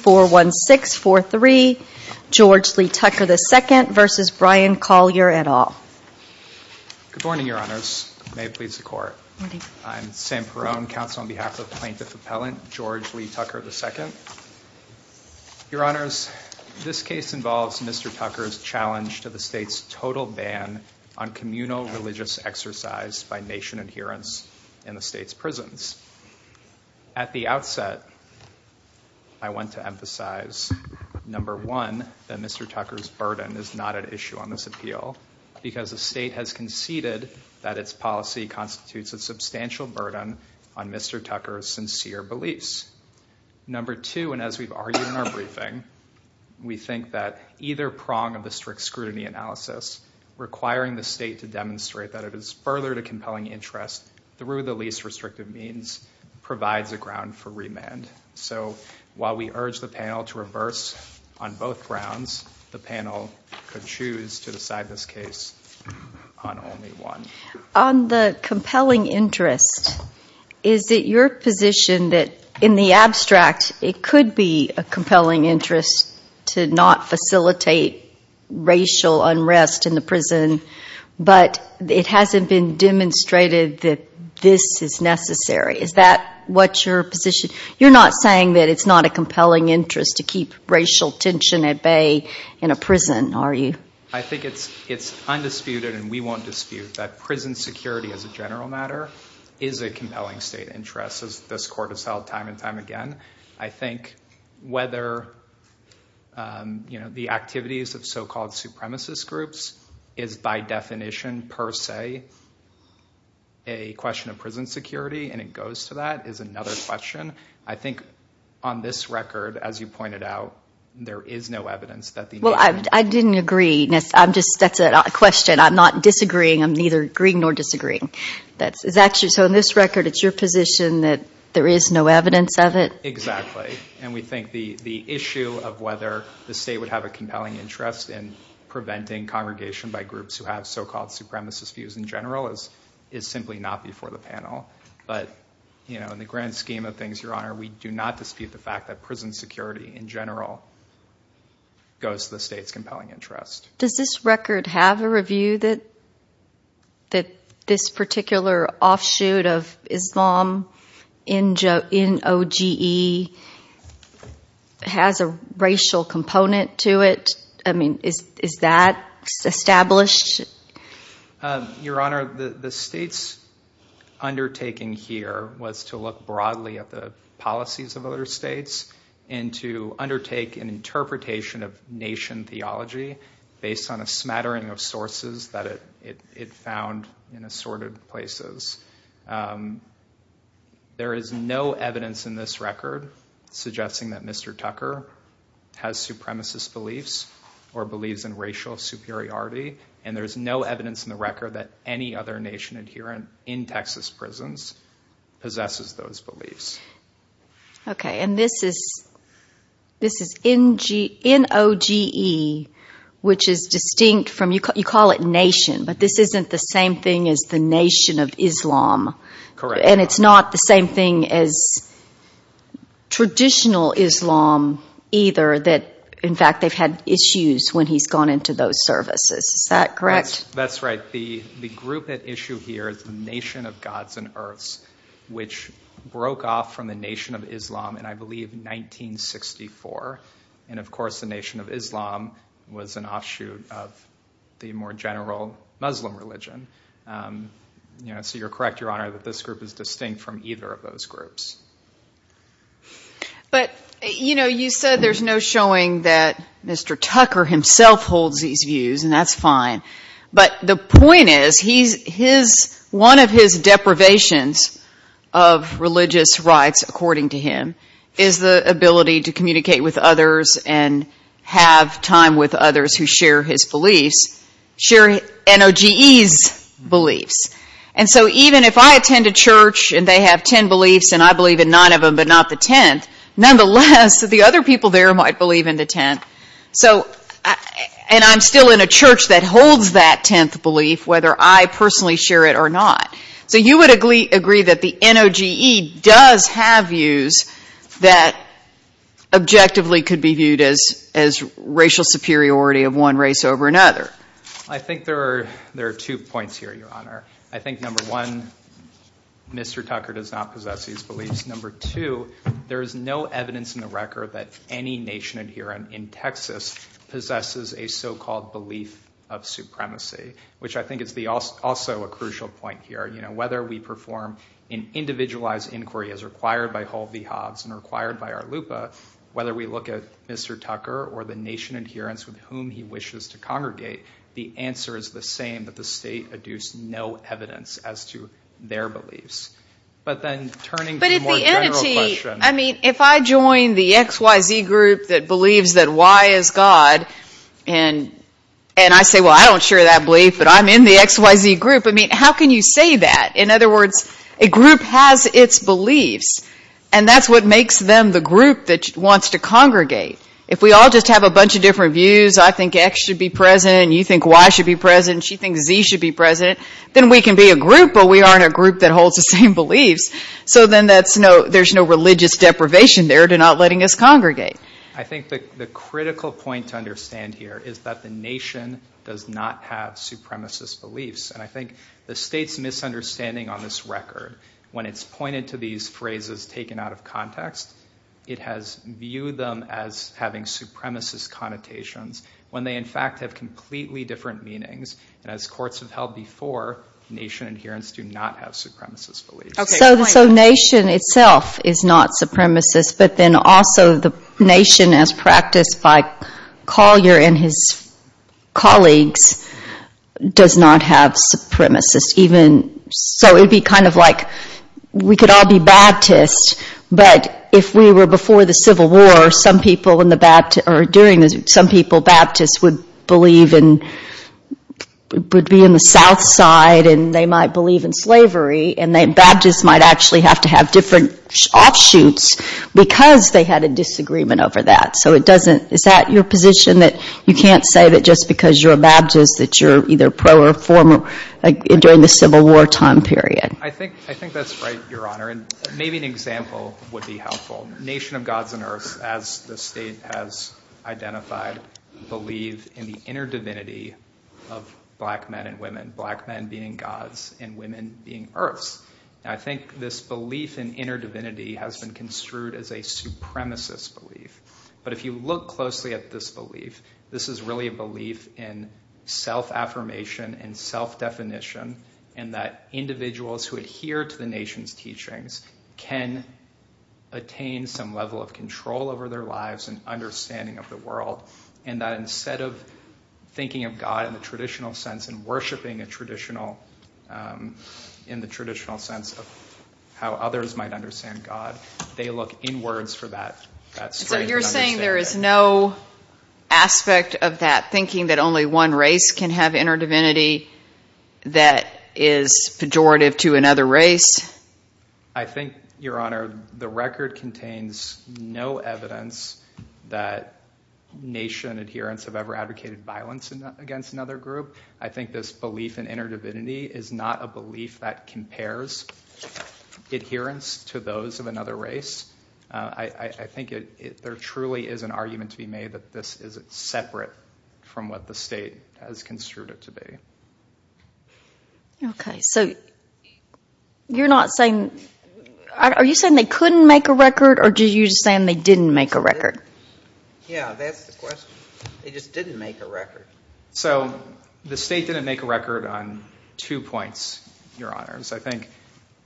George Lee Tucker, II v. Bryan Collier, et al. Good morning, Your Honors. May it please the Court. I'm Sam Perone, counsel on behalf of Plaintiff Appellant George Lee Tucker, II. Your Honors, this case involves Mr. Tucker's challenge to the State's total ban on communal religious exercise by nation adherents in the State's prisons. At the outset, I want to emphasize, number one, that Mr. Tucker's burden is not at issue on this appeal, because the State has conceded that its policy constitutes a substantial burden on Mr. Tucker's sincere beliefs. Number two, and as we've argued in our briefing, we think that either prong of the strict scrutiny analysis requiring the State to demonstrate that it is further to compelling interest through the least restrictive means provides a ground for remand. So while we urge the panel to reverse on both grounds, the panel could choose to decide this case on only one. On the compelling interest, is it your position that, in the abstract, it could be a compelling interest to not facilitate racial unrest in the prison, but it hasn't been demonstrated that this is necessary? Is that what your position is? You're not saying that it's not a compelling interest to keep racial tension at bay in a prison, are you? I think it's undisputed, and we won't dispute, that prison security as a general matter is a compelling State interest, as this Court has held time and time again. I think whether the activities of so-called supremacist groups is by definition per se a question of prison security, and it goes to that, is another question. I think on this record, as you pointed out, there is no evidence that the nation— Well, I didn't agree. That's a question. I'm not disagreeing. I'm neither agreeing nor disagreeing. So on this record, it's your position that there is no evidence of it? Exactly. And we think the issue of whether the State would have a compelling interest in preventing congregation by groups who have so-called supremacist views in general is simply not before the panel. But in the grand scheme of things, Your Honor, we do not dispute the fact that prison security in general goes to the State's compelling interest. Does this record have a review that this particular offshoot of Islam, N-O-G-E, has a racial component to it? I mean, is that established? Your Honor, the State's undertaking here was to look broadly at the policies of other States and to undertake an interpretation of nation theology based on a smattering of sources that it found in assorted places. There is no evidence in this record suggesting that Mr. Tucker has supremacist beliefs or believes in racial superiority, and there is no evidence in the record that any other nation adherent in Texas prisons possesses those beliefs. Okay. And this is N-O-G-E, which is distinct from – you call it nation, but this isn't the same thing as the nation of Islam. Correct. And it's not the same thing as traditional Islam, either, that, in fact, they've had issues when he's gone into those services. Is that correct? That's right. The group at issue here is the Nation of Gods and Earths, which broke off from the Nation of Islam in, I believe, 1964. And, of course, the Nation of Islam was an offshoot of the more general Muslim religion. So you're correct, Your Honor, that this group is distinct from either of those groups. But, you know, you said there's no showing that Mr. Tucker himself holds these views, and that's fine. But the point is one of his deprivations of religious rights, according to him, is the ability to communicate with others and have time with others who share his beliefs, share N-O-G-E's beliefs. And so even if I attend a church and they have 10 beliefs and I believe in 9 of them but not the 10th, nonetheless, the other people there might believe in the 10th. And I'm still in a church that holds that 10th belief, whether I personally share it or not. So you would agree that the N-O-G-E does have views that objectively could be viewed as racial superiority of one race over another? I think there are two points here, Your Honor. I think, number one, Mr. Tucker does not possess these beliefs. Number two, there is no evidence in the record that any nation adherent in Texas possesses a so-called belief of supremacy, which I think is also a crucial point here. Whether we perform an individualized inquiry as required by Hull v. Hobbs and required by our LUPA, whether we look at Mr. Tucker or the nation adherents with whom he wishes to congregate, the answer is the same, that the state adduced no evidence as to their beliefs. But then turning to the more general question. I mean, if I join the X, Y, Z group that believes that Y is God, and I say, well, I don't share that belief, but I'm in the X, Y, Z group, I mean, how can you say that? In other words, a group has its beliefs, and that's what makes them the group that wants to congregate. If we all just have a bunch of different views, I think X should be president, you think Y should be president, she thinks Z should be president, then we can be a group, but we aren't a group that holds the same beliefs. So then there's no religious deprivation there to not letting us congregate. I think the critical point to understand here is that the nation does not have supremacist beliefs. And I think the state's misunderstanding on this record, when it's pointed to these phrases taken out of context, it has viewed them as having supremacist connotations when they, in fact, have completely different meanings. And as courts have held before, nation adherents do not have supremacist beliefs. So nation itself is not supremacist, but then also the nation as practiced by Collier and his colleagues does not have supremacist. So it would be kind of like, we could all be Baptists, but if we were before the Civil War, some people Baptists would be in the South Side, and they might believe in slavery, and then Baptists might actually have to have different offshoots because they had a disagreement over that. So is that your position, that you can't say that just because you're a Baptist that you're either pro or for during the Civil War time period? I think that's right, Your Honor, and maybe an example would be helpful. Nation of gods and earths, as the state has identified, believe in the inner divinity of black men and women, black men being gods and women being earths. And I think this belief in inner divinity has been construed as a supremacist belief. But if you look closely at this belief, this is really a belief in self-affirmation and self-definition, and that individuals who adhere to the nation's teachings can attain some level of control over their lives and understanding of the world, and that instead of thinking of God in the traditional sense and worshiping in the traditional sense of how others might understand God, they look inwards for that strength and understanding. So you're saying there is no aspect of that thinking that only one race can have inner divinity that is pejorative to another race? I think, Your Honor, the record contains no evidence that nation adherents have ever advocated violence against another group. I think this belief in inner divinity is not a belief that compares adherence to those of another race. I think there truly is an argument to be made that this is separate from what the state has construed it to be. Okay, so you're not saying – are you saying they couldn't make a record, or are you saying they didn't make a record? Yeah, that's the question. They just didn't make a record. So the state didn't make a record on two points, Your Honors. I think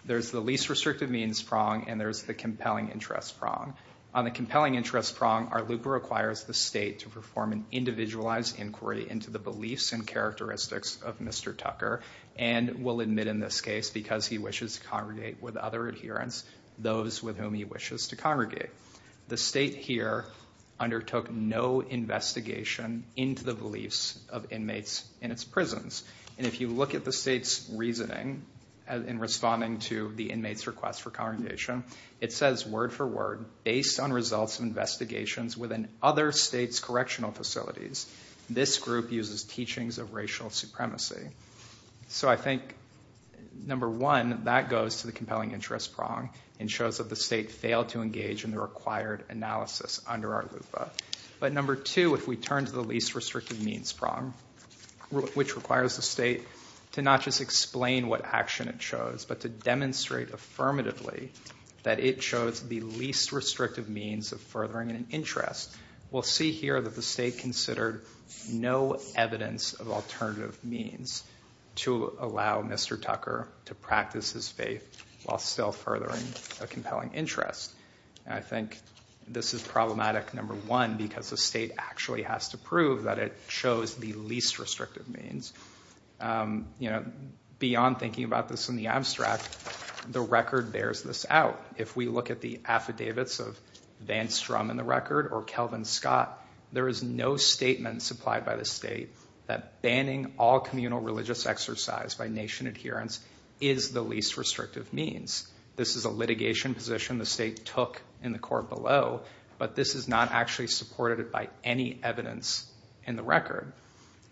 there's the least restrictive means prong and there's the compelling interest prong. On the compelling interest prong, our lupa requires the state to perform an individualized inquiry into the beliefs and characteristics of Mr. Tucker and will admit in this case, because he wishes to congregate with other adherents, those with whom he wishes to congregate. The state here undertook no investigation into the beliefs of inmates in its prisons. And if you look at the state's reasoning in responding to the inmates' request for congregation, it says word for word, based on results of investigations within other states' correctional facilities, this group uses teachings of racial supremacy. So I think, number one, that goes to the compelling interest prong and shows that the state failed to engage in the required analysis under our lupa. But number two, if we turn to the least restrictive means prong, which requires the state to not just explain what action it chose, but to demonstrate affirmatively that it chose the least restrictive means of furthering an interest, we'll see here that the state considered no evidence of alternative means to allow Mr. Tucker to practice his faith while still furthering a compelling interest. I think this is problematic, number one, because the state actually has to prove that it chose the least restrictive means. You know, beyond thinking about this in the abstract, the record bears this out. If we look at the affidavits of Van Strum in the record or Kelvin Scott, there is no statement supplied by the state that banning all communal religious exercise by nation adherents is the least restrictive means. This is a litigation position the state took in the court below, but this is not actually supported by any evidence in the record.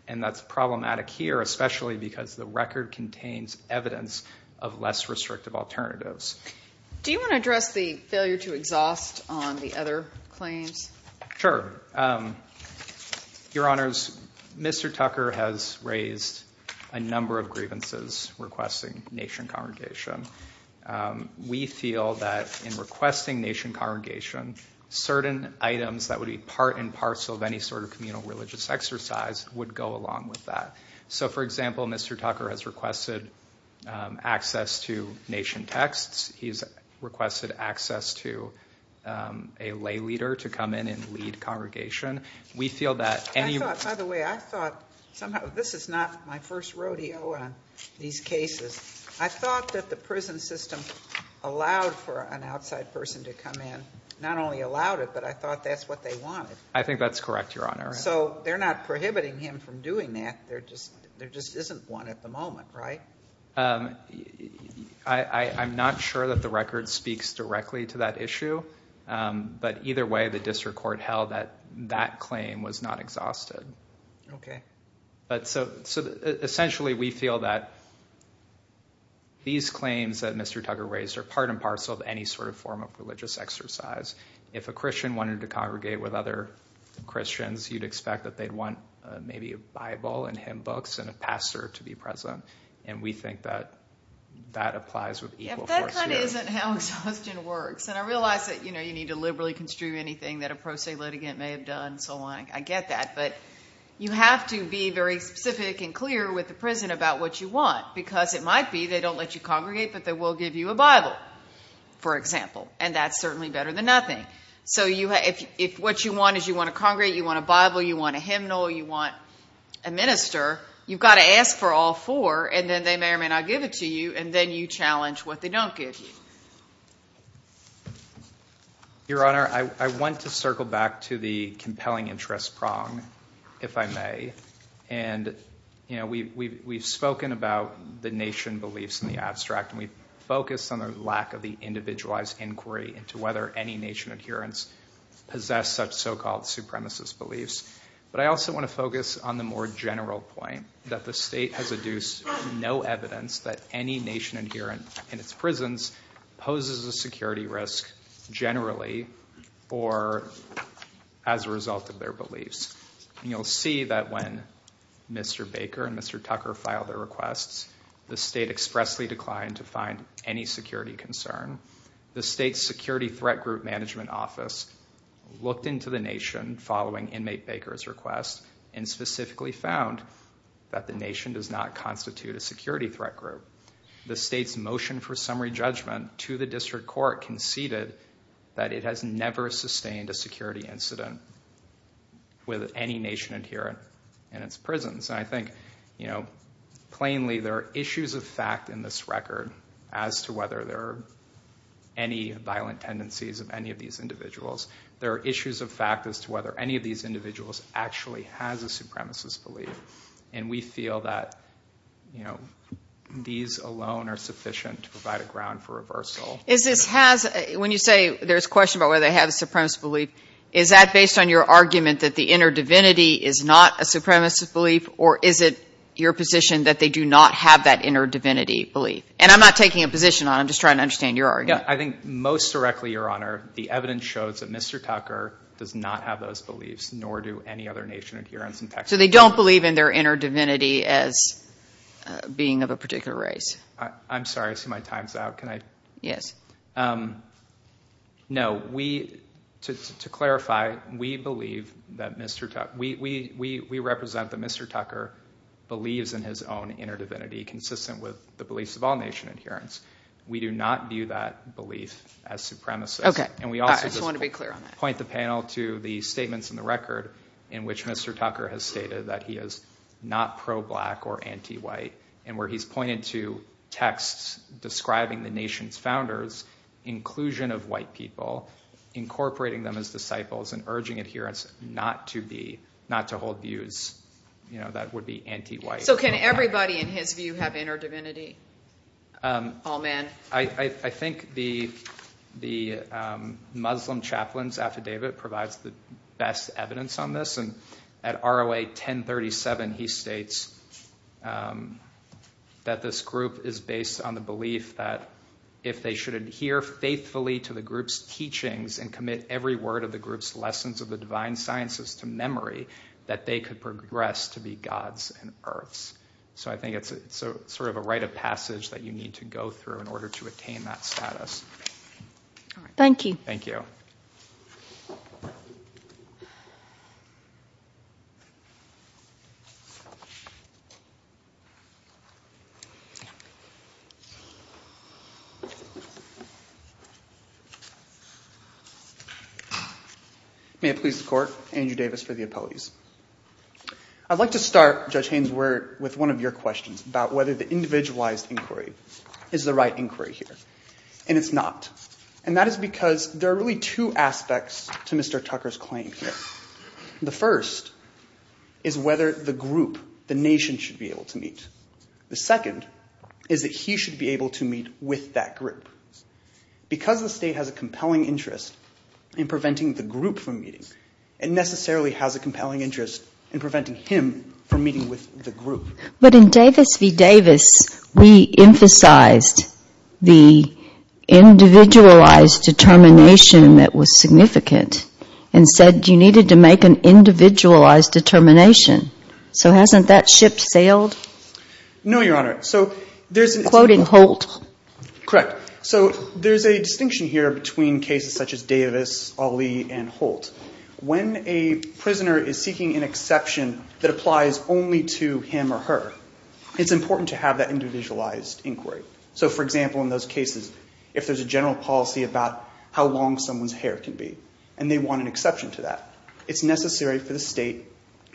And that's problematic here, especially because the record contains evidence of less restrictive alternatives. Do you want to address the failure to exhaust on the other claims? Sure. Your Honors, Mr. Tucker has raised a number of grievances requesting nation congregation. We feel that in requesting nation congregation, certain items that would be part and parcel of any sort of communal religious exercise would go along with that. So, for example, Mr. Tucker has requested access to nation texts. He's requested access to a lay leader to come in and lead congregation. We feel that. By the way, I thought somehow this is not my first rodeo on these cases. I thought that the prison system allowed for an outside person to come in. Not only allowed it, but I thought that's what they wanted. I think that's correct, Your Honor. So they're not prohibiting him from doing that. There just there just isn't one at the moment, right? I'm not sure that the record speaks directly to that issue. But either way, the district court held that that claim was not exhausted. Okay. But so essentially we feel that these claims that Mr. Tucker raised are part and parcel of any sort of form of religious exercise. If a Christian wanted to congregate with other Christians, you'd expect that they'd want maybe a Bible and hymn books and a pastor to be present. And we think that that applies with equal force here. That kind of isn't how exhaustion works. And I realize that you need to liberally construe anything that a pro se litigant may have done and so on. I get that. But you have to be very specific and clear with the prison about what you want because it might be they don't let you congregate but they will give you a Bible, for example. And that's certainly better than nothing. So if what you want is you want to congregate, you want a Bible, you want a hymnal, you want a minister, you've got to ask for all four and then they may or may not give it to you and then you challenge what they don't give you. Your Honor, I want to circle back to the compelling interest prong, if I may. And, you know, we've spoken about the nation beliefs in the abstract, and we've focused on the lack of the individualized inquiry into whether any nation adherents possess such so-called supremacist beliefs. But I also want to focus on the more general point that the state has adduced no evidence that any nation adherent in its prisons poses a security risk generally or as a result of their beliefs. And you'll see that when Mr. Baker and Mr. Tucker filed their requests, the state expressly declined to find any security concern. The state's Security Threat Group Management Office looked into the nation following inmate Baker's request and specifically found that the nation does not constitute a security threat group. The state's motion for summary judgment to the district court conceded that it has never sustained a security incident with any nation adherent in its prisons. And I think, you know, plainly there are issues of fact in this record as to whether there are any violent tendencies of any of these individuals. There are issues of fact as to whether any of these individuals actually has a supremacist belief. And we feel that, you know, these alone are sufficient to provide a ground for reversal. When you say there's a question about whether they have a supremacist belief, is that based on your argument that the inner divinity is not a supremacist belief? Or is it your position that they do not have that inner divinity belief? And I'm not taking a position on it. I'm just trying to understand your argument. Yeah, I think most directly, Your Honor, the evidence shows that Mr. Tucker does not have those beliefs, nor do any other nation adherents in Texas. So they don't believe in their inner divinity as being of a particular race. I'm sorry. I see my time's out. Can I? Yes. No, we, to clarify, we believe that Mr. Tucker, we represent that Mr. Tucker believes in his own inner divinity consistent with the beliefs of all nation adherents. We do not view that belief as supremacist. Okay. I just want to be clear on that. And we also just point the panel to the statements in the record in which Mr. Tucker has stated that he is not pro-black or anti-white. And where he's pointed to texts describing the nation's founders, inclusion of white people, incorporating them as disciples and urging adherents not to be, not to hold views, you know, that would be anti-white. So can everybody in his view have inner divinity? All men? I think the Muslim chaplains affidavit provides the best evidence on this. And at ROA 1037, he states that this group is based on the belief that if they should adhere faithfully to the group's teachings and commit every word of the group's lessons of the divine sciences to memory, that they could progress to be gods and earths. So I think it's sort of a rite of passage that you need to go through in order to attain that status. Thank you. Thank you. May it please the court. Andrew Davis for the appellees. I'd like to start, Judge Haynes, with one of your questions about whether the individualized inquiry is the right inquiry here. And it's not. And that is because there are really two aspects to Mr. Tucker's claim here. The first is whether the group, the nation, should be able to meet. The second is that he should be able to meet with that group. Because the state has a compelling interest in preventing the group from meeting, it necessarily has a compelling interest in preventing him from meeting with the group. But in Davis v. Davis, we emphasized the individualized determination that was significant and said you needed to make an individualized determination. So hasn't that ship sailed? No, Your Honor. Quoting Holt. Correct. So there's a distinction here between cases such as Davis, Ali, and Holt. When a prisoner is seeking an exception that applies only to him or her, it's important to have that individualized inquiry. So, for example, in those cases, if there's a general policy about how long someone's hair can be, and they want an exception to that, it's necessary for the state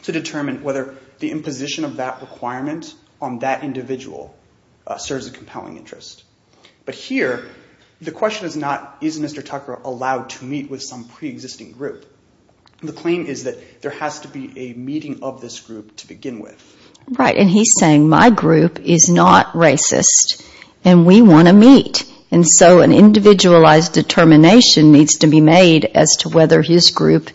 to determine whether the imposition of that requirement on that individual serves a compelling interest. But here, the question is not, is Mr. Tucker allowed to meet with some preexisting group? The claim is that there has to be a meeting of this group to begin with. Right, and he's saying my group is not racist, and we want to meet. And so an individualized determination needs to be made as to whether his group,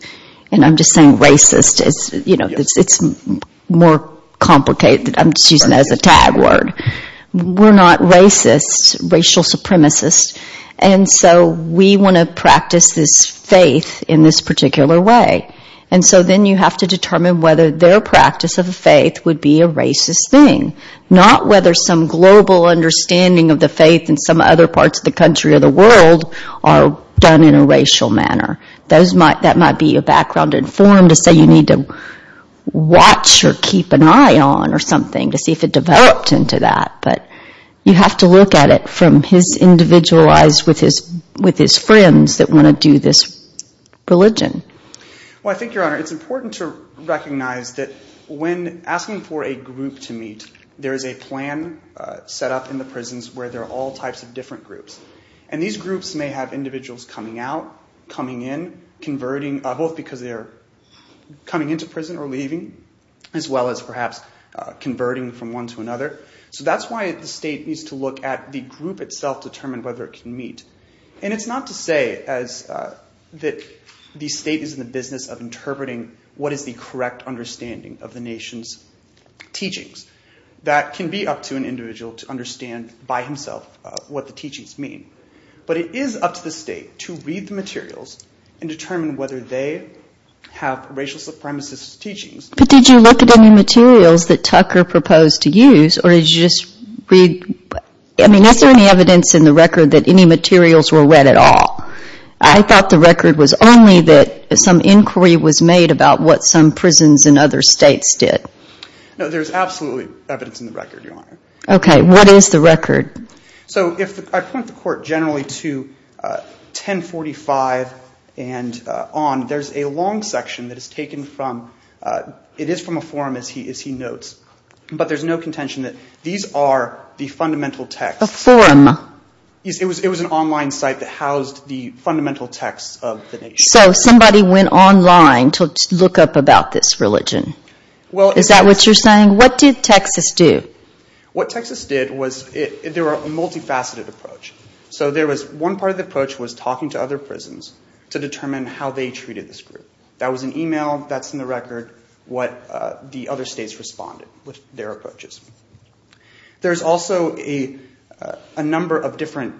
and I'm just saying racist. It's more complicated. I'm just using that as a tag word. We're not racists, racial supremacists, and so we want to practice this faith in this particular way. And so then you have to determine whether their practice of faith would be a racist thing. Not whether some global understanding of the faith in some other parts of the country or the world are done in a racial manner. That might be a background informed to say you need to watch or keep an eye on or something to see if it developed into that. But you have to look at it from his individualized, with his friends that want to do this religion. Well, I think, Your Honor, it's important to recognize that when asking for a group to meet, there is a plan set up in the prisons where there are all types of different groups. And these groups may have individuals coming out, coming in, converting, both because they're coming into prison or leaving, as well as perhaps converting from one to another. So that's why the state needs to look at the group itself to determine whether it can meet. And it's not to say that the state is in the business of interpreting what is the correct understanding of the nation's teachings. That can be up to an individual to understand by himself what the teachings mean. But it is up to the state to read the materials and determine whether they have racial supremacist teachings, but did you look at any materials that Tucker proposed to use or did you just read? I mean, is there any evidence in the record that any materials were read at all? I thought the record was only that some inquiry was made about what some prisons in other states did. No, there's absolutely evidence in the record, Your Honor. Okay. What is the record? So I point the Court generally to 1045 and on. There's a long section that is taken from, it is from a forum, as he notes. But there's no contention that these are the fundamental texts. A forum? It was an online site that housed the fundamental texts of the nation. So somebody went online to look up about this religion. Is that what you're saying? What did Texas do? What Texas did was, there was a multifaceted approach. So one part of the approach was talking to other prisons to determine how they treated this group. That was an email, that's in the record, what the other states responded with their approaches. There's also a number of different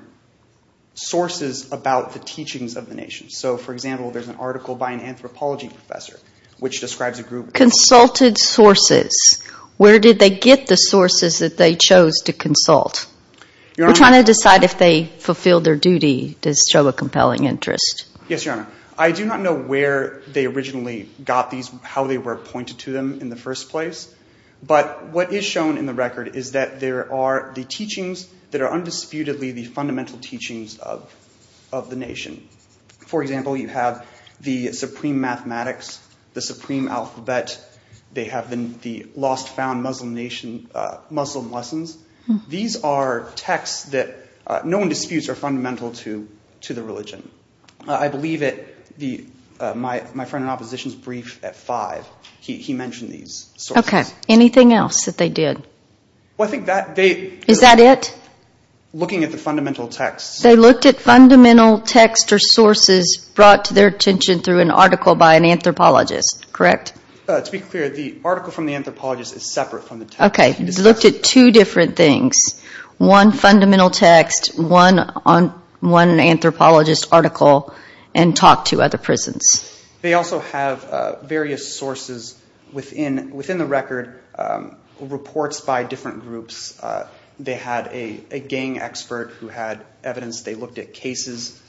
sources about the teachings of the nation. So, for example, there's an article by an anthropology professor, which describes a group... Consulted sources. Where did they get the sources that they chose to consult? We're trying to decide if they fulfilled their duty to show a compelling interest. Yes, Your Honor. I do not know where they originally got these, how they were appointed to them in the first place. But what is shown in the record is that there are the teachings that are undisputedly the fundamental teachings of the nation. For example, you have the supreme mathematics, the supreme alphabet. They have the lost found Muslim nation, Muslim lessons. These are texts that no one disputes are fundamental to the religion. I believe my friend in opposition's brief at five, he mentioned these sources. Okay. Anything else that they did? Is that it? They looked at fundamental texts or sources brought to their attention through an article by an anthropologist, correct? To be clear, the article from the anthropologist is separate from the text. Okay. Looked at two different things. One fundamental text, one anthropologist article, and talked to other prisons. They also have various sources within the record, reports by different groups. They had a gang expert who had evidence. They looked at cases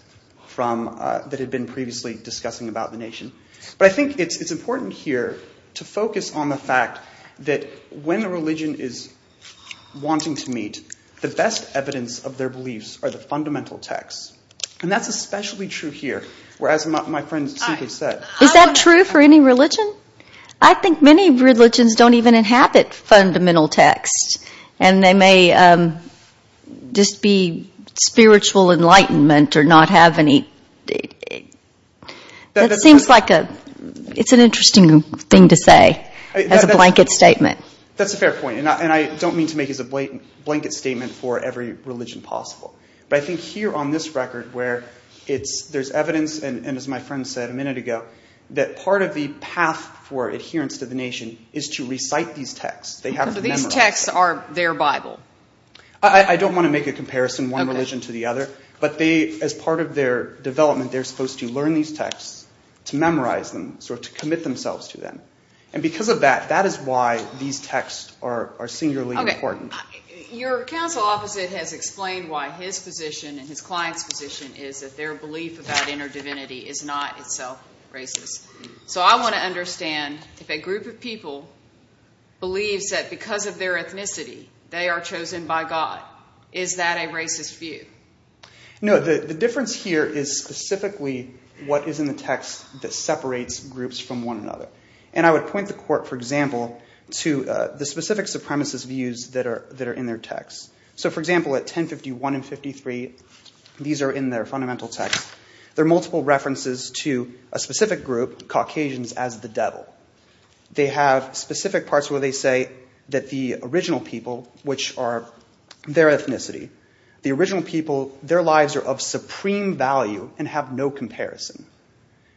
that had been previously discussing about the nation. But I think it's important here to focus on the fact that when a religion is wanting to meet, the best evidence of their beliefs are the fundamental texts. And that's especially true here. Is that true for any religion? I think many religions don't even inhabit fundamental texts. And they may just be spiritual enlightenment or not have any. It seems like it's an interesting thing to say as a blanket statement. That's a fair point. And I don't mean to make it as a blanket statement for every religion possible. But I think here on this record where there's evidence, and as my friend said a minute ago, that part of the path for adherence to the nation is to recite these texts. These texts are their Bible. I don't want to make a comparison, one religion to the other. But as part of their development, they're supposed to learn these texts, to memorize them, to commit themselves to them. And because of that, that is why these texts are singularly important. Your counsel opposite has explained why his position and his client's position is that their belief about inner divinity is not itself racist. So I want to understand if a group of people believes that because of their ethnicity, they are chosen by God, is that a racist view? No, the difference here is specifically what is in the text that separates groups from one another. And I would point the court, for example, to the specific supremacist views that are in their texts. So for example, at 1051 and 53, these are in their fundamental text. There are multiple references to a specific group, Caucasians as the devil. They have specific parts where they say that the original people, which are their ethnicity, the original people, their lives are of supreme value and have no comparison.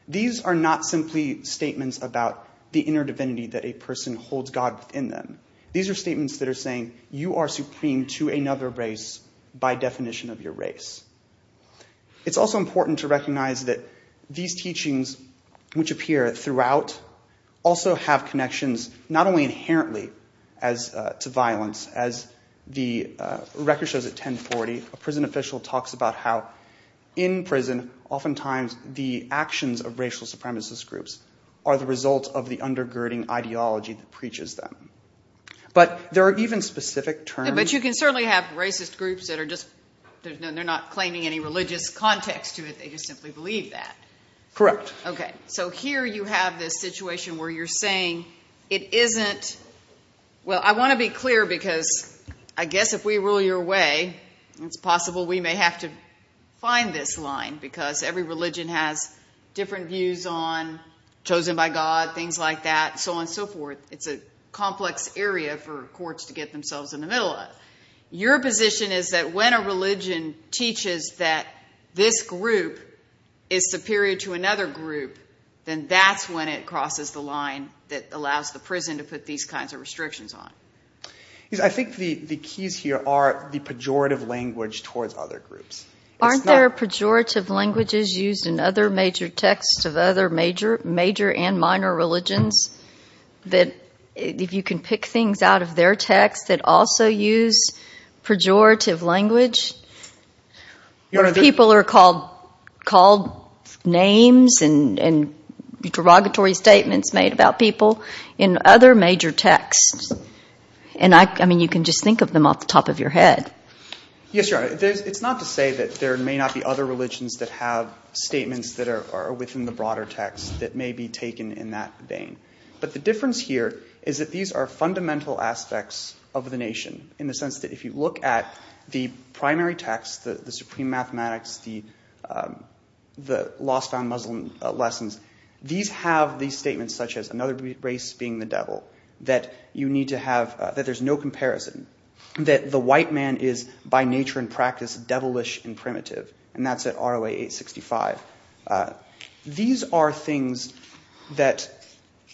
These are not simply statements about the inner divinity that a person holds God within them. These are statements that are saying you are supreme to another race by definition of your race. It's also important to recognize that these teachings, which appear throughout, also have connections not only inherently to violence. As the record shows at 1040, a prison official talks about how in prison, oftentimes the actions of racial supremacist groups are the result of the undergirding ideology that preaches them. But there are even specific terms. But you can certainly have racist groups that are not claiming any religious context to it. They just simply believe that. Correct. Okay. So here you have this situation where you're saying it isn't – well, I want to be clear because I guess if we rule your way, it's possible we may have to find this line. Because every religion has different views on chosen by God, things like that, so on and so forth. It's a complex area for courts to get themselves in the middle of. Your position is that when a religion teaches that this group is superior to another group, then that's when it crosses the line that allows the prison to put these kinds of restrictions on. I think the keys here are the pejorative language towards other groups. Aren't there pejorative languages used in other major texts of other major and minor religions that are used in prison? If you can pick things out of their text that also use pejorative language? People are called names and derogatory statements made about people in other major texts. I mean, you can just think of them off the top of your head. Yes, Your Honor. It's not to say that there may not be other religions that have statements that are within the broader text that may be taken in that vein. But the difference here is that these are fundamental aspects of the nation in the sense that if you look at the primary text, the supreme mathematics, the lost found Muslim lessons, these have these statements such as another race being the devil, that you need to have, that there's no comparison, that the white man is by nature and practice devilish and primitive. And that's at ROA 865. These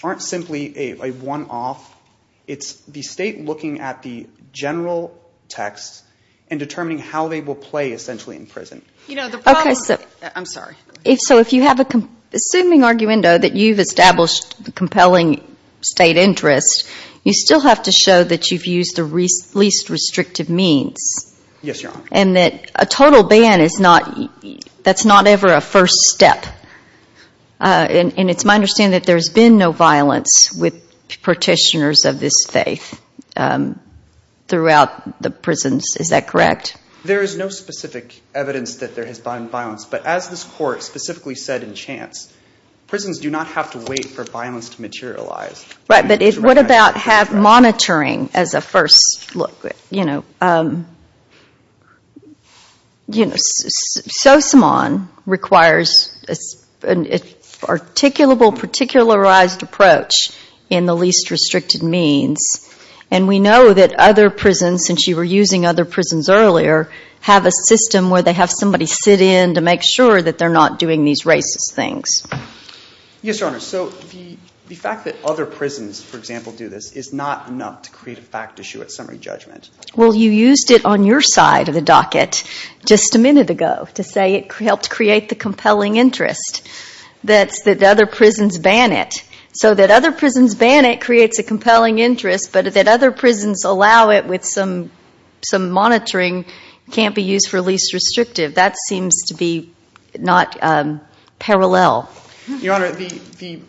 aren't simply a one-off. It's the state looking at the general text and determining how they will play essentially in prison. I'm sorry. So if you have an assuming arguendo that you've established compelling state interest, you still have to show that you've used the least restrictive means. Yes, Your Honor. And that a total ban is not, that's not ever a first step. And it's my understanding that there's been no violence with petitioners of this faith throughout the prisons. Is that correct? There is no specific evidence that there has been violence. But as this Court specifically said in Chance, prisons do not have to wait for violence to materialize. Right, but what about have monitoring as a first look, you know. Sosomon requires an articulable, particularized approach in the least restricted means. And we know that other prisons, since you were using other prisons earlier, have a system where they have somebody sit in to make sure that they're not doing these racist things. Yes, Your Honor, so the fact that other prisons, for example, do this is not enough to create a fact issue at summary judgment. Well, you used it on your side of the docket just a minute ago to say it helped create the compelling interest. That's that other prisons ban it. So that other prisons ban it creates a compelling interest, but that other prisons allow it with some monitoring can't be used for least restrictive. That seems to be not parallel. Your Honor, the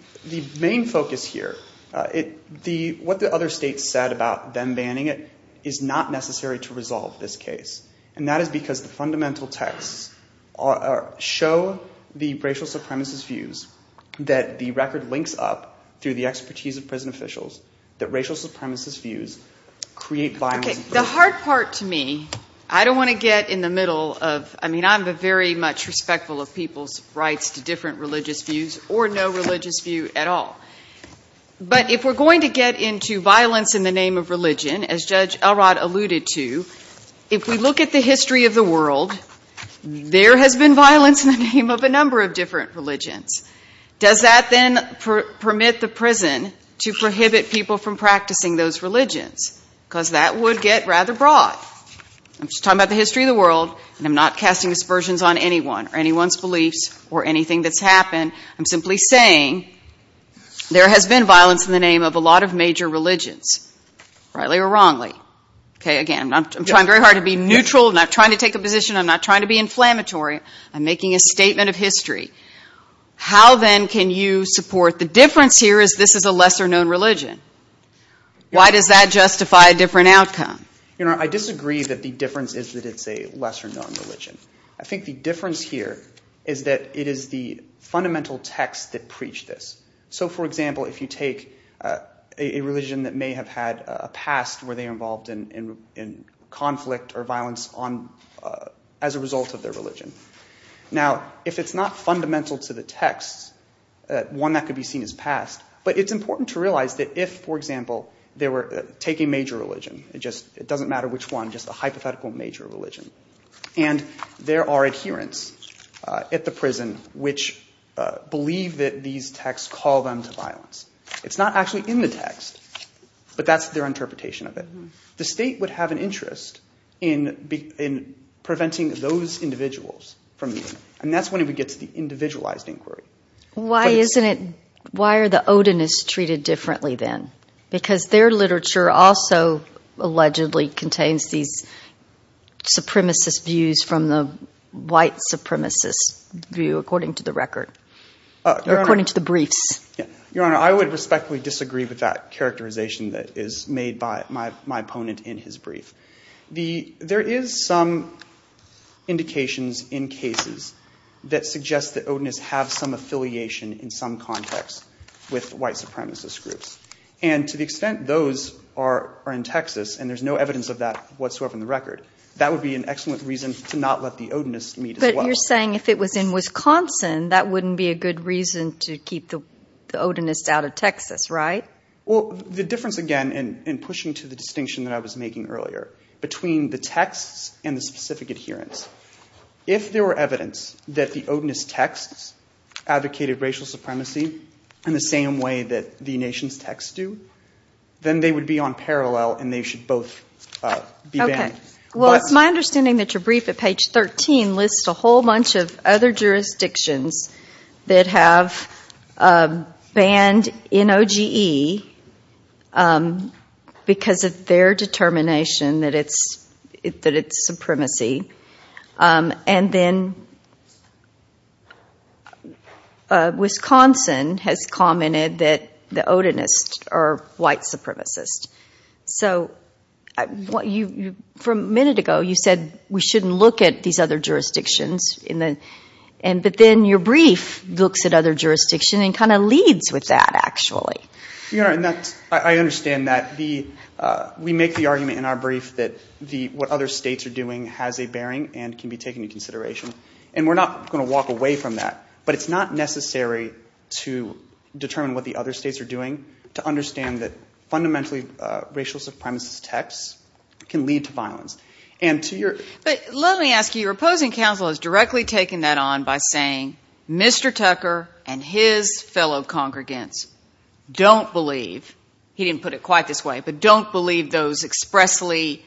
main focus here, what the other states said about them banning it is not necessary to resolve this case. And that is because the fundamental texts show the racial supremacist views that the record links up through the expertise of prison officials that racial supremacist views create violence. Okay, the hard part to me, I don't want to get in the middle of, I mean, I'm very much respectful of people's rights to different religious views or no religious view at all. But if we're going to get into violence in the name of religion, as Judge Elrod alluded to, if we look at the history of the world, there has been violence in the name of a number of different religions. Does that then permit the prison to prohibit people from practicing those religions? Because that would get rather broad. I'm just talking about the history of the world and I'm not casting aspersions on anyone or anyone's beliefs or anything that's happened. I'm simply saying there has been violence in the name of a lot of major religions, rightly or wrongly. Okay, again, I'm trying very hard to be neutral, not trying to take a position, I'm not trying to be inflammatory. I'm making a statement of history. How then can you support the difference here is this is a lesser known religion? Why does that justify a different outcome? You know, I disagree that the difference is that it's a lesser known religion. I think the difference here is that it is the fundamental text that preached this. So, for example, if you take a religion that may have had a past where they were involved in conflict or violence as a result of their religion. Now, if it's not fundamental to the text, one that could be seen as past. But it's important to realize that if, for example, take a major religion. It doesn't matter which one, just a hypothetical major religion. And there are adherents at the prison which believe that these texts call them to violence. It's not actually in the text, but that's their interpretation of it. The state would have an interest in preventing those individuals from. And that's when we get to the individualized inquiry. Why isn't it? Why are the Odin is treated differently then? Because their literature also allegedly contains these supremacist views from the white supremacist view, according to the record. According to the briefs. Your Honor, I would respectfully disagree with that characterization that is made by my opponent in his brief. The there is some indications in cases that suggest that Odin is have some affiliation in some context with white supremacist groups. And to the extent those are in Texas and there's no evidence of that whatsoever in the record. That would be an excellent reason to not let the Odin is meet. But you're saying if it was in Wisconsin, that wouldn't be a good reason to keep the Odin is out of Texas, right? Well, the difference again and pushing to the distinction that I was making earlier between the texts and the specific adherence. If there were evidence that the Odin is texts advocated racial supremacy in the same way that the nation's texts do, then they would be on parallel and they should both be. Well, it's my understanding that your brief at page 13 lists a whole bunch of other jurisdictions that have banned in OGE because of their determination that it's that it's supremacy. And then Wisconsin has commented that the Odin is or white supremacist. So what you for a minute ago, you said we shouldn't look at these other jurisdictions in the end. But then your brief looks at other jurisdiction and kind of leads with that, actually. You know, and that's I understand that the we make the argument in our brief that the what other states are doing has a bearing and can be taken into consideration. And we're not going to walk away from that. But your point about whether the Odin is or the racist, racial supremacist texts can lead to violence and to your... Let me ask you, your opposing counsel has directly taken that on by saying Mr. Tucker and his fellow congregants don't believe. He didn't put it quite this way, but don't believe those expressly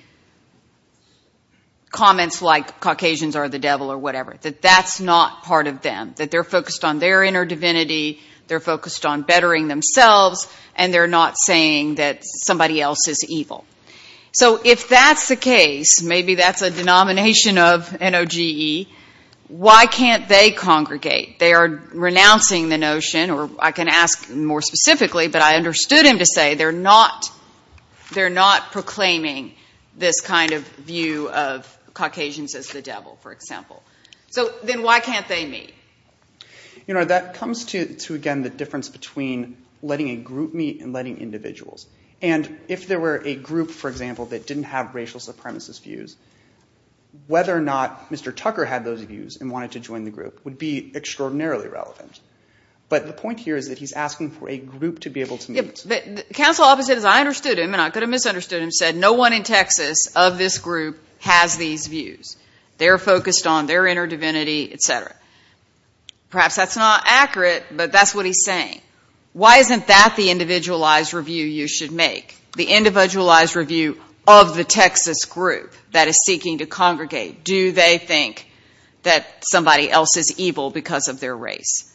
comments like Caucasians are the devil or whatever, that that's not part of them. That they're focused on their inner divinity, they're focused on bettering themselves, and they're not saying that somebody else is better than them. So if that's the case, maybe that's a denomination of NOGE, why can't they congregate? They are renouncing the notion, or I can ask more specifically, but I understood him to say they're not proclaiming this kind of view of Caucasians as the devil, for example. So then why can't they meet? You know, that comes to, again, the difference between letting a group meet and letting individuals. And if there were a group, for example, that didn't have racial supremacist views, whether or not Mr. Tucker had those views and wanted to join the group would be extraordinarily relevant. But the point here is that he's asking for a group to be able to meet. Counsel opposite, as I understood him, and I could have misunderstood him, said no one in Texas of this group has these views. They're focused on their inner divinity, et cetera. Perhaps that's not accurate, but that's what he's saying. Why isn't that the individualized review you should make, the individualized review of the Texas group that is seeking to congregate? Do they think that somebody else is evil because of their race?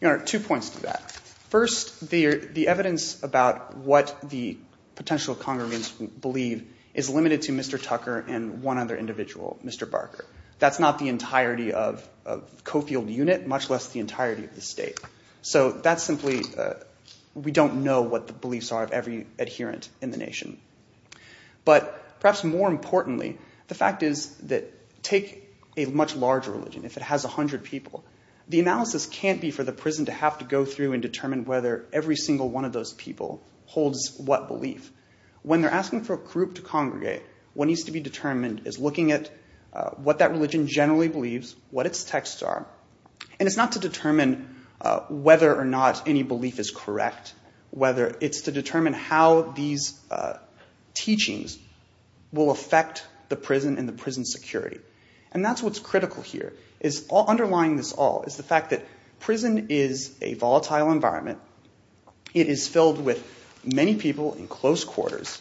Your Honor, two points to that. First, the evidence about what the potential congregants believe is limited to Mr. Tucker and one other individual, Mr. Barker. That's not the entirety of Cofield unit, much less the entirety of the state. So that's simply, we don't know what the beliefs are of every adherent in the nation. But perhaps more importantly, the fact is that take a much larger religion. If it has 100 people, the analysis can't be for the prison to have to go through and determine whether every single one of those people holds what belief. When they're asking for a group to congregate, what needs to be determined is looking at what that religion generally believes, what its texts are. And it's not to determine whether or not any belief is correct. It's to determine how these teachings will affect the prison and the prison security. And that's what's critical here, is underlying this all is the fact that prison is a volatile environment. It is filled with many people in close quarters,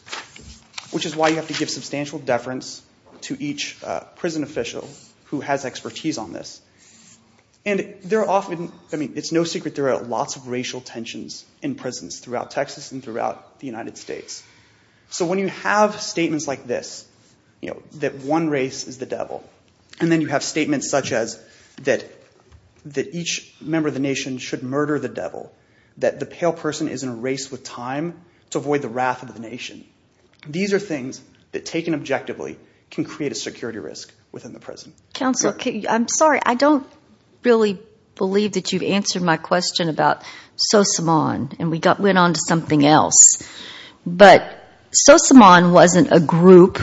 which is why you have to give substantial deference to each prison official who has expertise on this. And there are often, I mean, it's no secret there are lots of racial tensions in prisons throughout Texas and throughout the United States. So when you have statements like this, that one race is the devil, and then you have statements such as that each member of the nation should murder the devil, that the pale person is in a race with time to avoid the wrath of the nation. These are things that taken objectively can create a security risk within the prison. Counsel, I'm sorry, I don't really believe that you've answered my question about Sosomon, and we went on to something else. But Sosomon wasn't a group.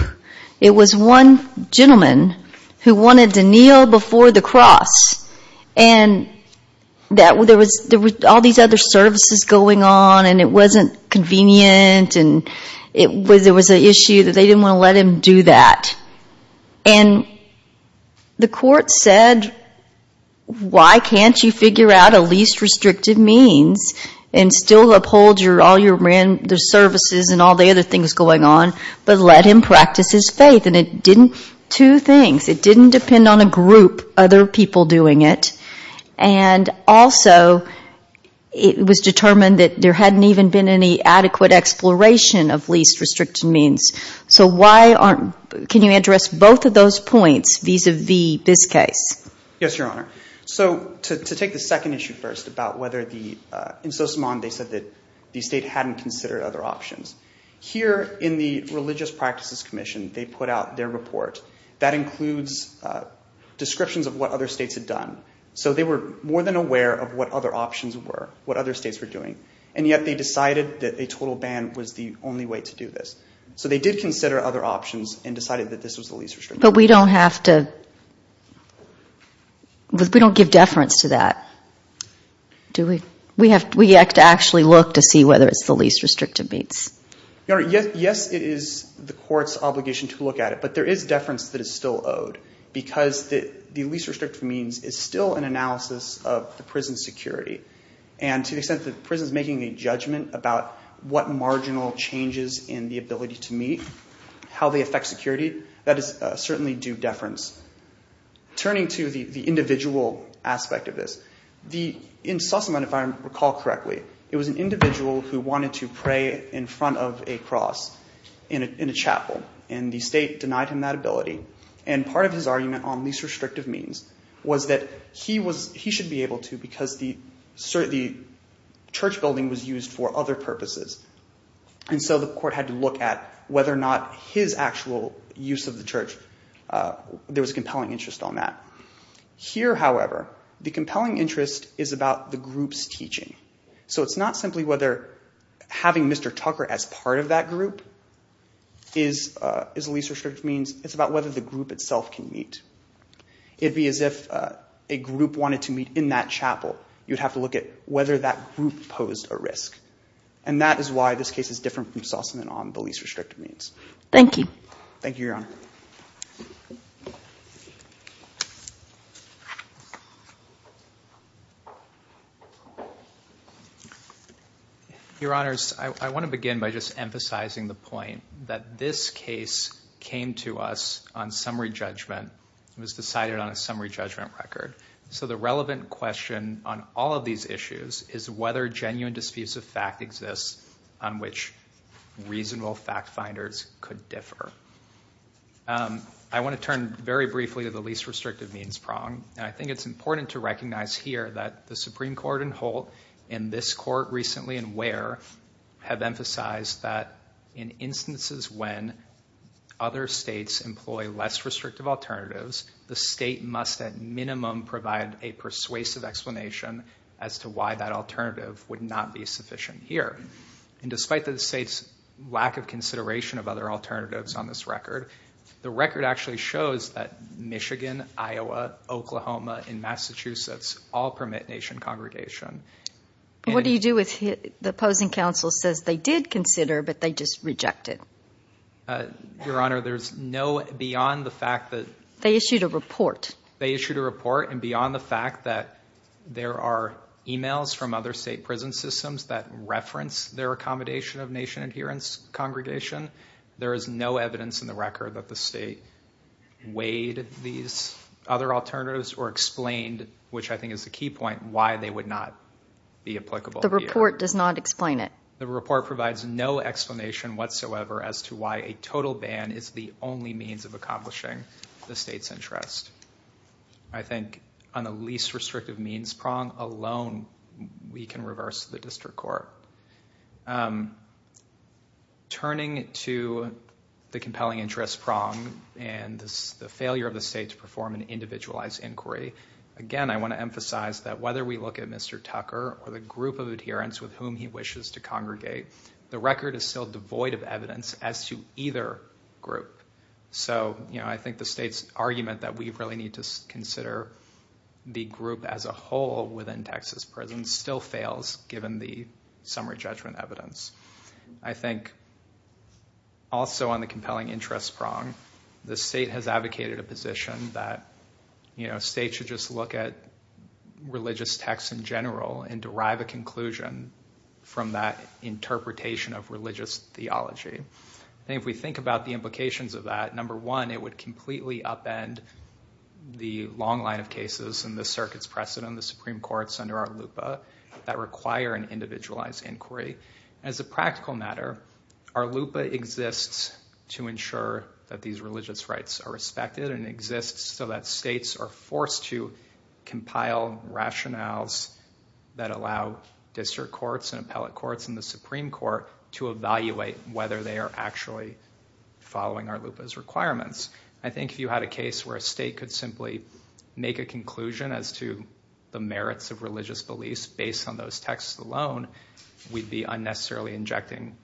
It was one gentleman who wanted to kneel before the cross. And there were all these other services going on, and it wasn't convenient, and there was an issue that they didn't want to let him do that. And the court said, why can't you figure out a least restrictive means and still uphold all your religious beliefs? There's services and all the other things going on, but let him practice his faith. And it didn't, two things, it didn't depend on a group, other people doing it. And also, it was determined that there hadn't even been any adequate exploration of least restrictive means. So why aren't, can you address both of those points vis-a-vis this case? Yes, Your Honor. So to take the second issue first about whether the, in Sosomon they said that the state hadn't considered other options. Here in the Religious Practices Commission, they put out their report that includes descriptions of what other states had done. So they were more than aware of what other options were, what other states were doing. And yet they decided that a total ban was the only way to do this. So they did consider other options and decided that this was the least restrictive. But we don't have to, we don't give deference to that, do we? We have to actually look to see whether it's the least restrictive means. Your Honor, yes, it is the court's obligation to look at it, but there is deference that is still owed. Because the least restrictive means is still an analysis of the prison security. And to the extent that the prison is making a judgment about what marginal changes in the ability to meet, how they affect security, that is certainly due deference. Turning to the individual aspect of this, in Sosomon, if I recall correctly, it was an individual who wanted to pray in front of a cross in a chapel. And the state denied him that ability. And part of his argument on least restrictive means was that he should be able to because the church building was used for other purposes. And so the court had to look at whether or not his actual use of the church, there was a compelling interest on that. Here, however, the compelling interest is about the group's teaching. So it's not simply whether having Mr. Tucker as part of that group is the least restrictive means. It's about whether the group itself can meet. It would be as if a group wanted to meet in that chapel. You would have to look at whether that group posed a risk. And that is why this case is different from Sosomon on the least restrictive means. Your Honors, I want to begin by just emphasizing the point that this case came to us on summary judgment. It was decided on a summary judgment record. So the relevant question on all of these issues is whether genuine disputes of fact exist on which reasonable fact finders could differ. I want to turn very briefly to the least restrictive means problem. I think it's important to recognize here that the Supreme Court in Holt and this court recently in Ware have emphasized that in instances when other states employ less restrictive alternatives, the state must at minimum provide a persuasive explanation as to why that alternative would not be sufficient here. And despite the state's lack of consideration of other alternatives on this record, the record actually shows that Michigan, Iowa, Oklahoma and Massachusetts all permit nation congregation. What do you do if the opposing counsel says they did consider but they just rejected? Your Honor, there's no beyond the fact that... They issued a report. They issued a report and beyond the fact that there are emails from other state prison systems that reference their accommodation of nation adherence congregation, it does not occur that the state weighed these other alternatives or explained, which I think is the key point, why they would not be applicable here. The report does not explain it. The report provides no explanation whatsoever as to why a total ban is the only means of accomplishing the state's interest. I think on the least restrictive means prong alone, we can reverse the district court. Turning to the compelling interest prong and the failure of the state to perform an individualized inquiry, again, I want to emphasize that whether we look at Mr. Tucker or the group of adherents with whom he wishes to congregate, the record is still devoid of evidence as to either group. So I think the state's argument that we really need to consider the group as a whole within Texas prisons still fails, given the summary judgment evidence. I think also on the compelling interest prong, the state has advocated a position that states should just look at religious texts in general and derive a conclusion from that interpretation of religious theology. If we think about the implications of that, number one, it would completely upend the long line of cases in the circuit's precedent, the Supreme Courts under ARLUPA, that require an individualized inquiry. As a practical matter, ARLUPA exists to ensure that these religious rights are respected and exists so that states are forced to compile rationales that allow district courts and appellate courts and the Supreme Court to evaluate whether they are actually following ARLUPA's requirements. I think if you had a case where a state could simply make a conclusion as to the merits of religious beliefs based on those texts alone, we'd be unnecessarily injecting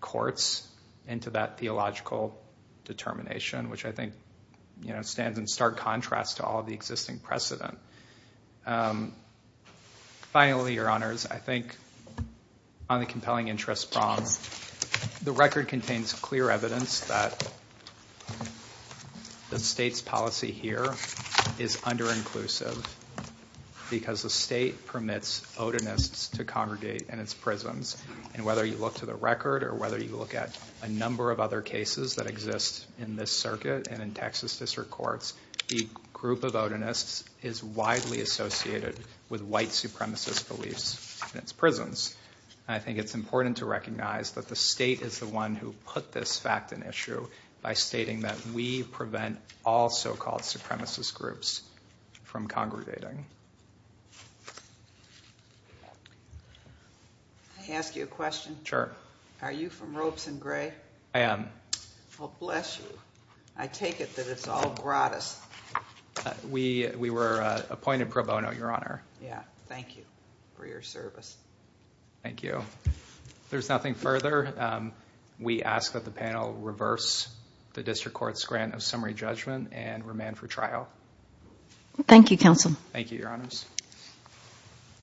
courts into that theological determination, which I think stands in stark contrast to all of the existing precedent. Finally, your honors, I think on the compelling interest prong, the record contains clear evidence that the state has not and that the state's policy here is under-inclusive because the state permits Odinists to congregate in its prisons. And whether you look to the record or whether you look at a number of other cases that exist in this circuit and in Texas District Courts, the group of Odinists is widely associated with white supremacist beliefs in its prisons. And I think it's important to recognize that the state is the one who put this fact in issue by stating that we, as a state, would like to prevent all so-called supremacist groups from congregating. I ask you a question. Sure. Are you from Ropes and Gray? I am. Well, bless you. I take it that it's all gratis. We were appointed pro bono, your honor. Yeah. Thank you for your service. Thank you. If there's nothing further, we ask that the panel reverse the District Court's grant of summary judgment and remand for trial. Thank you, counsel. Thank you, your honors.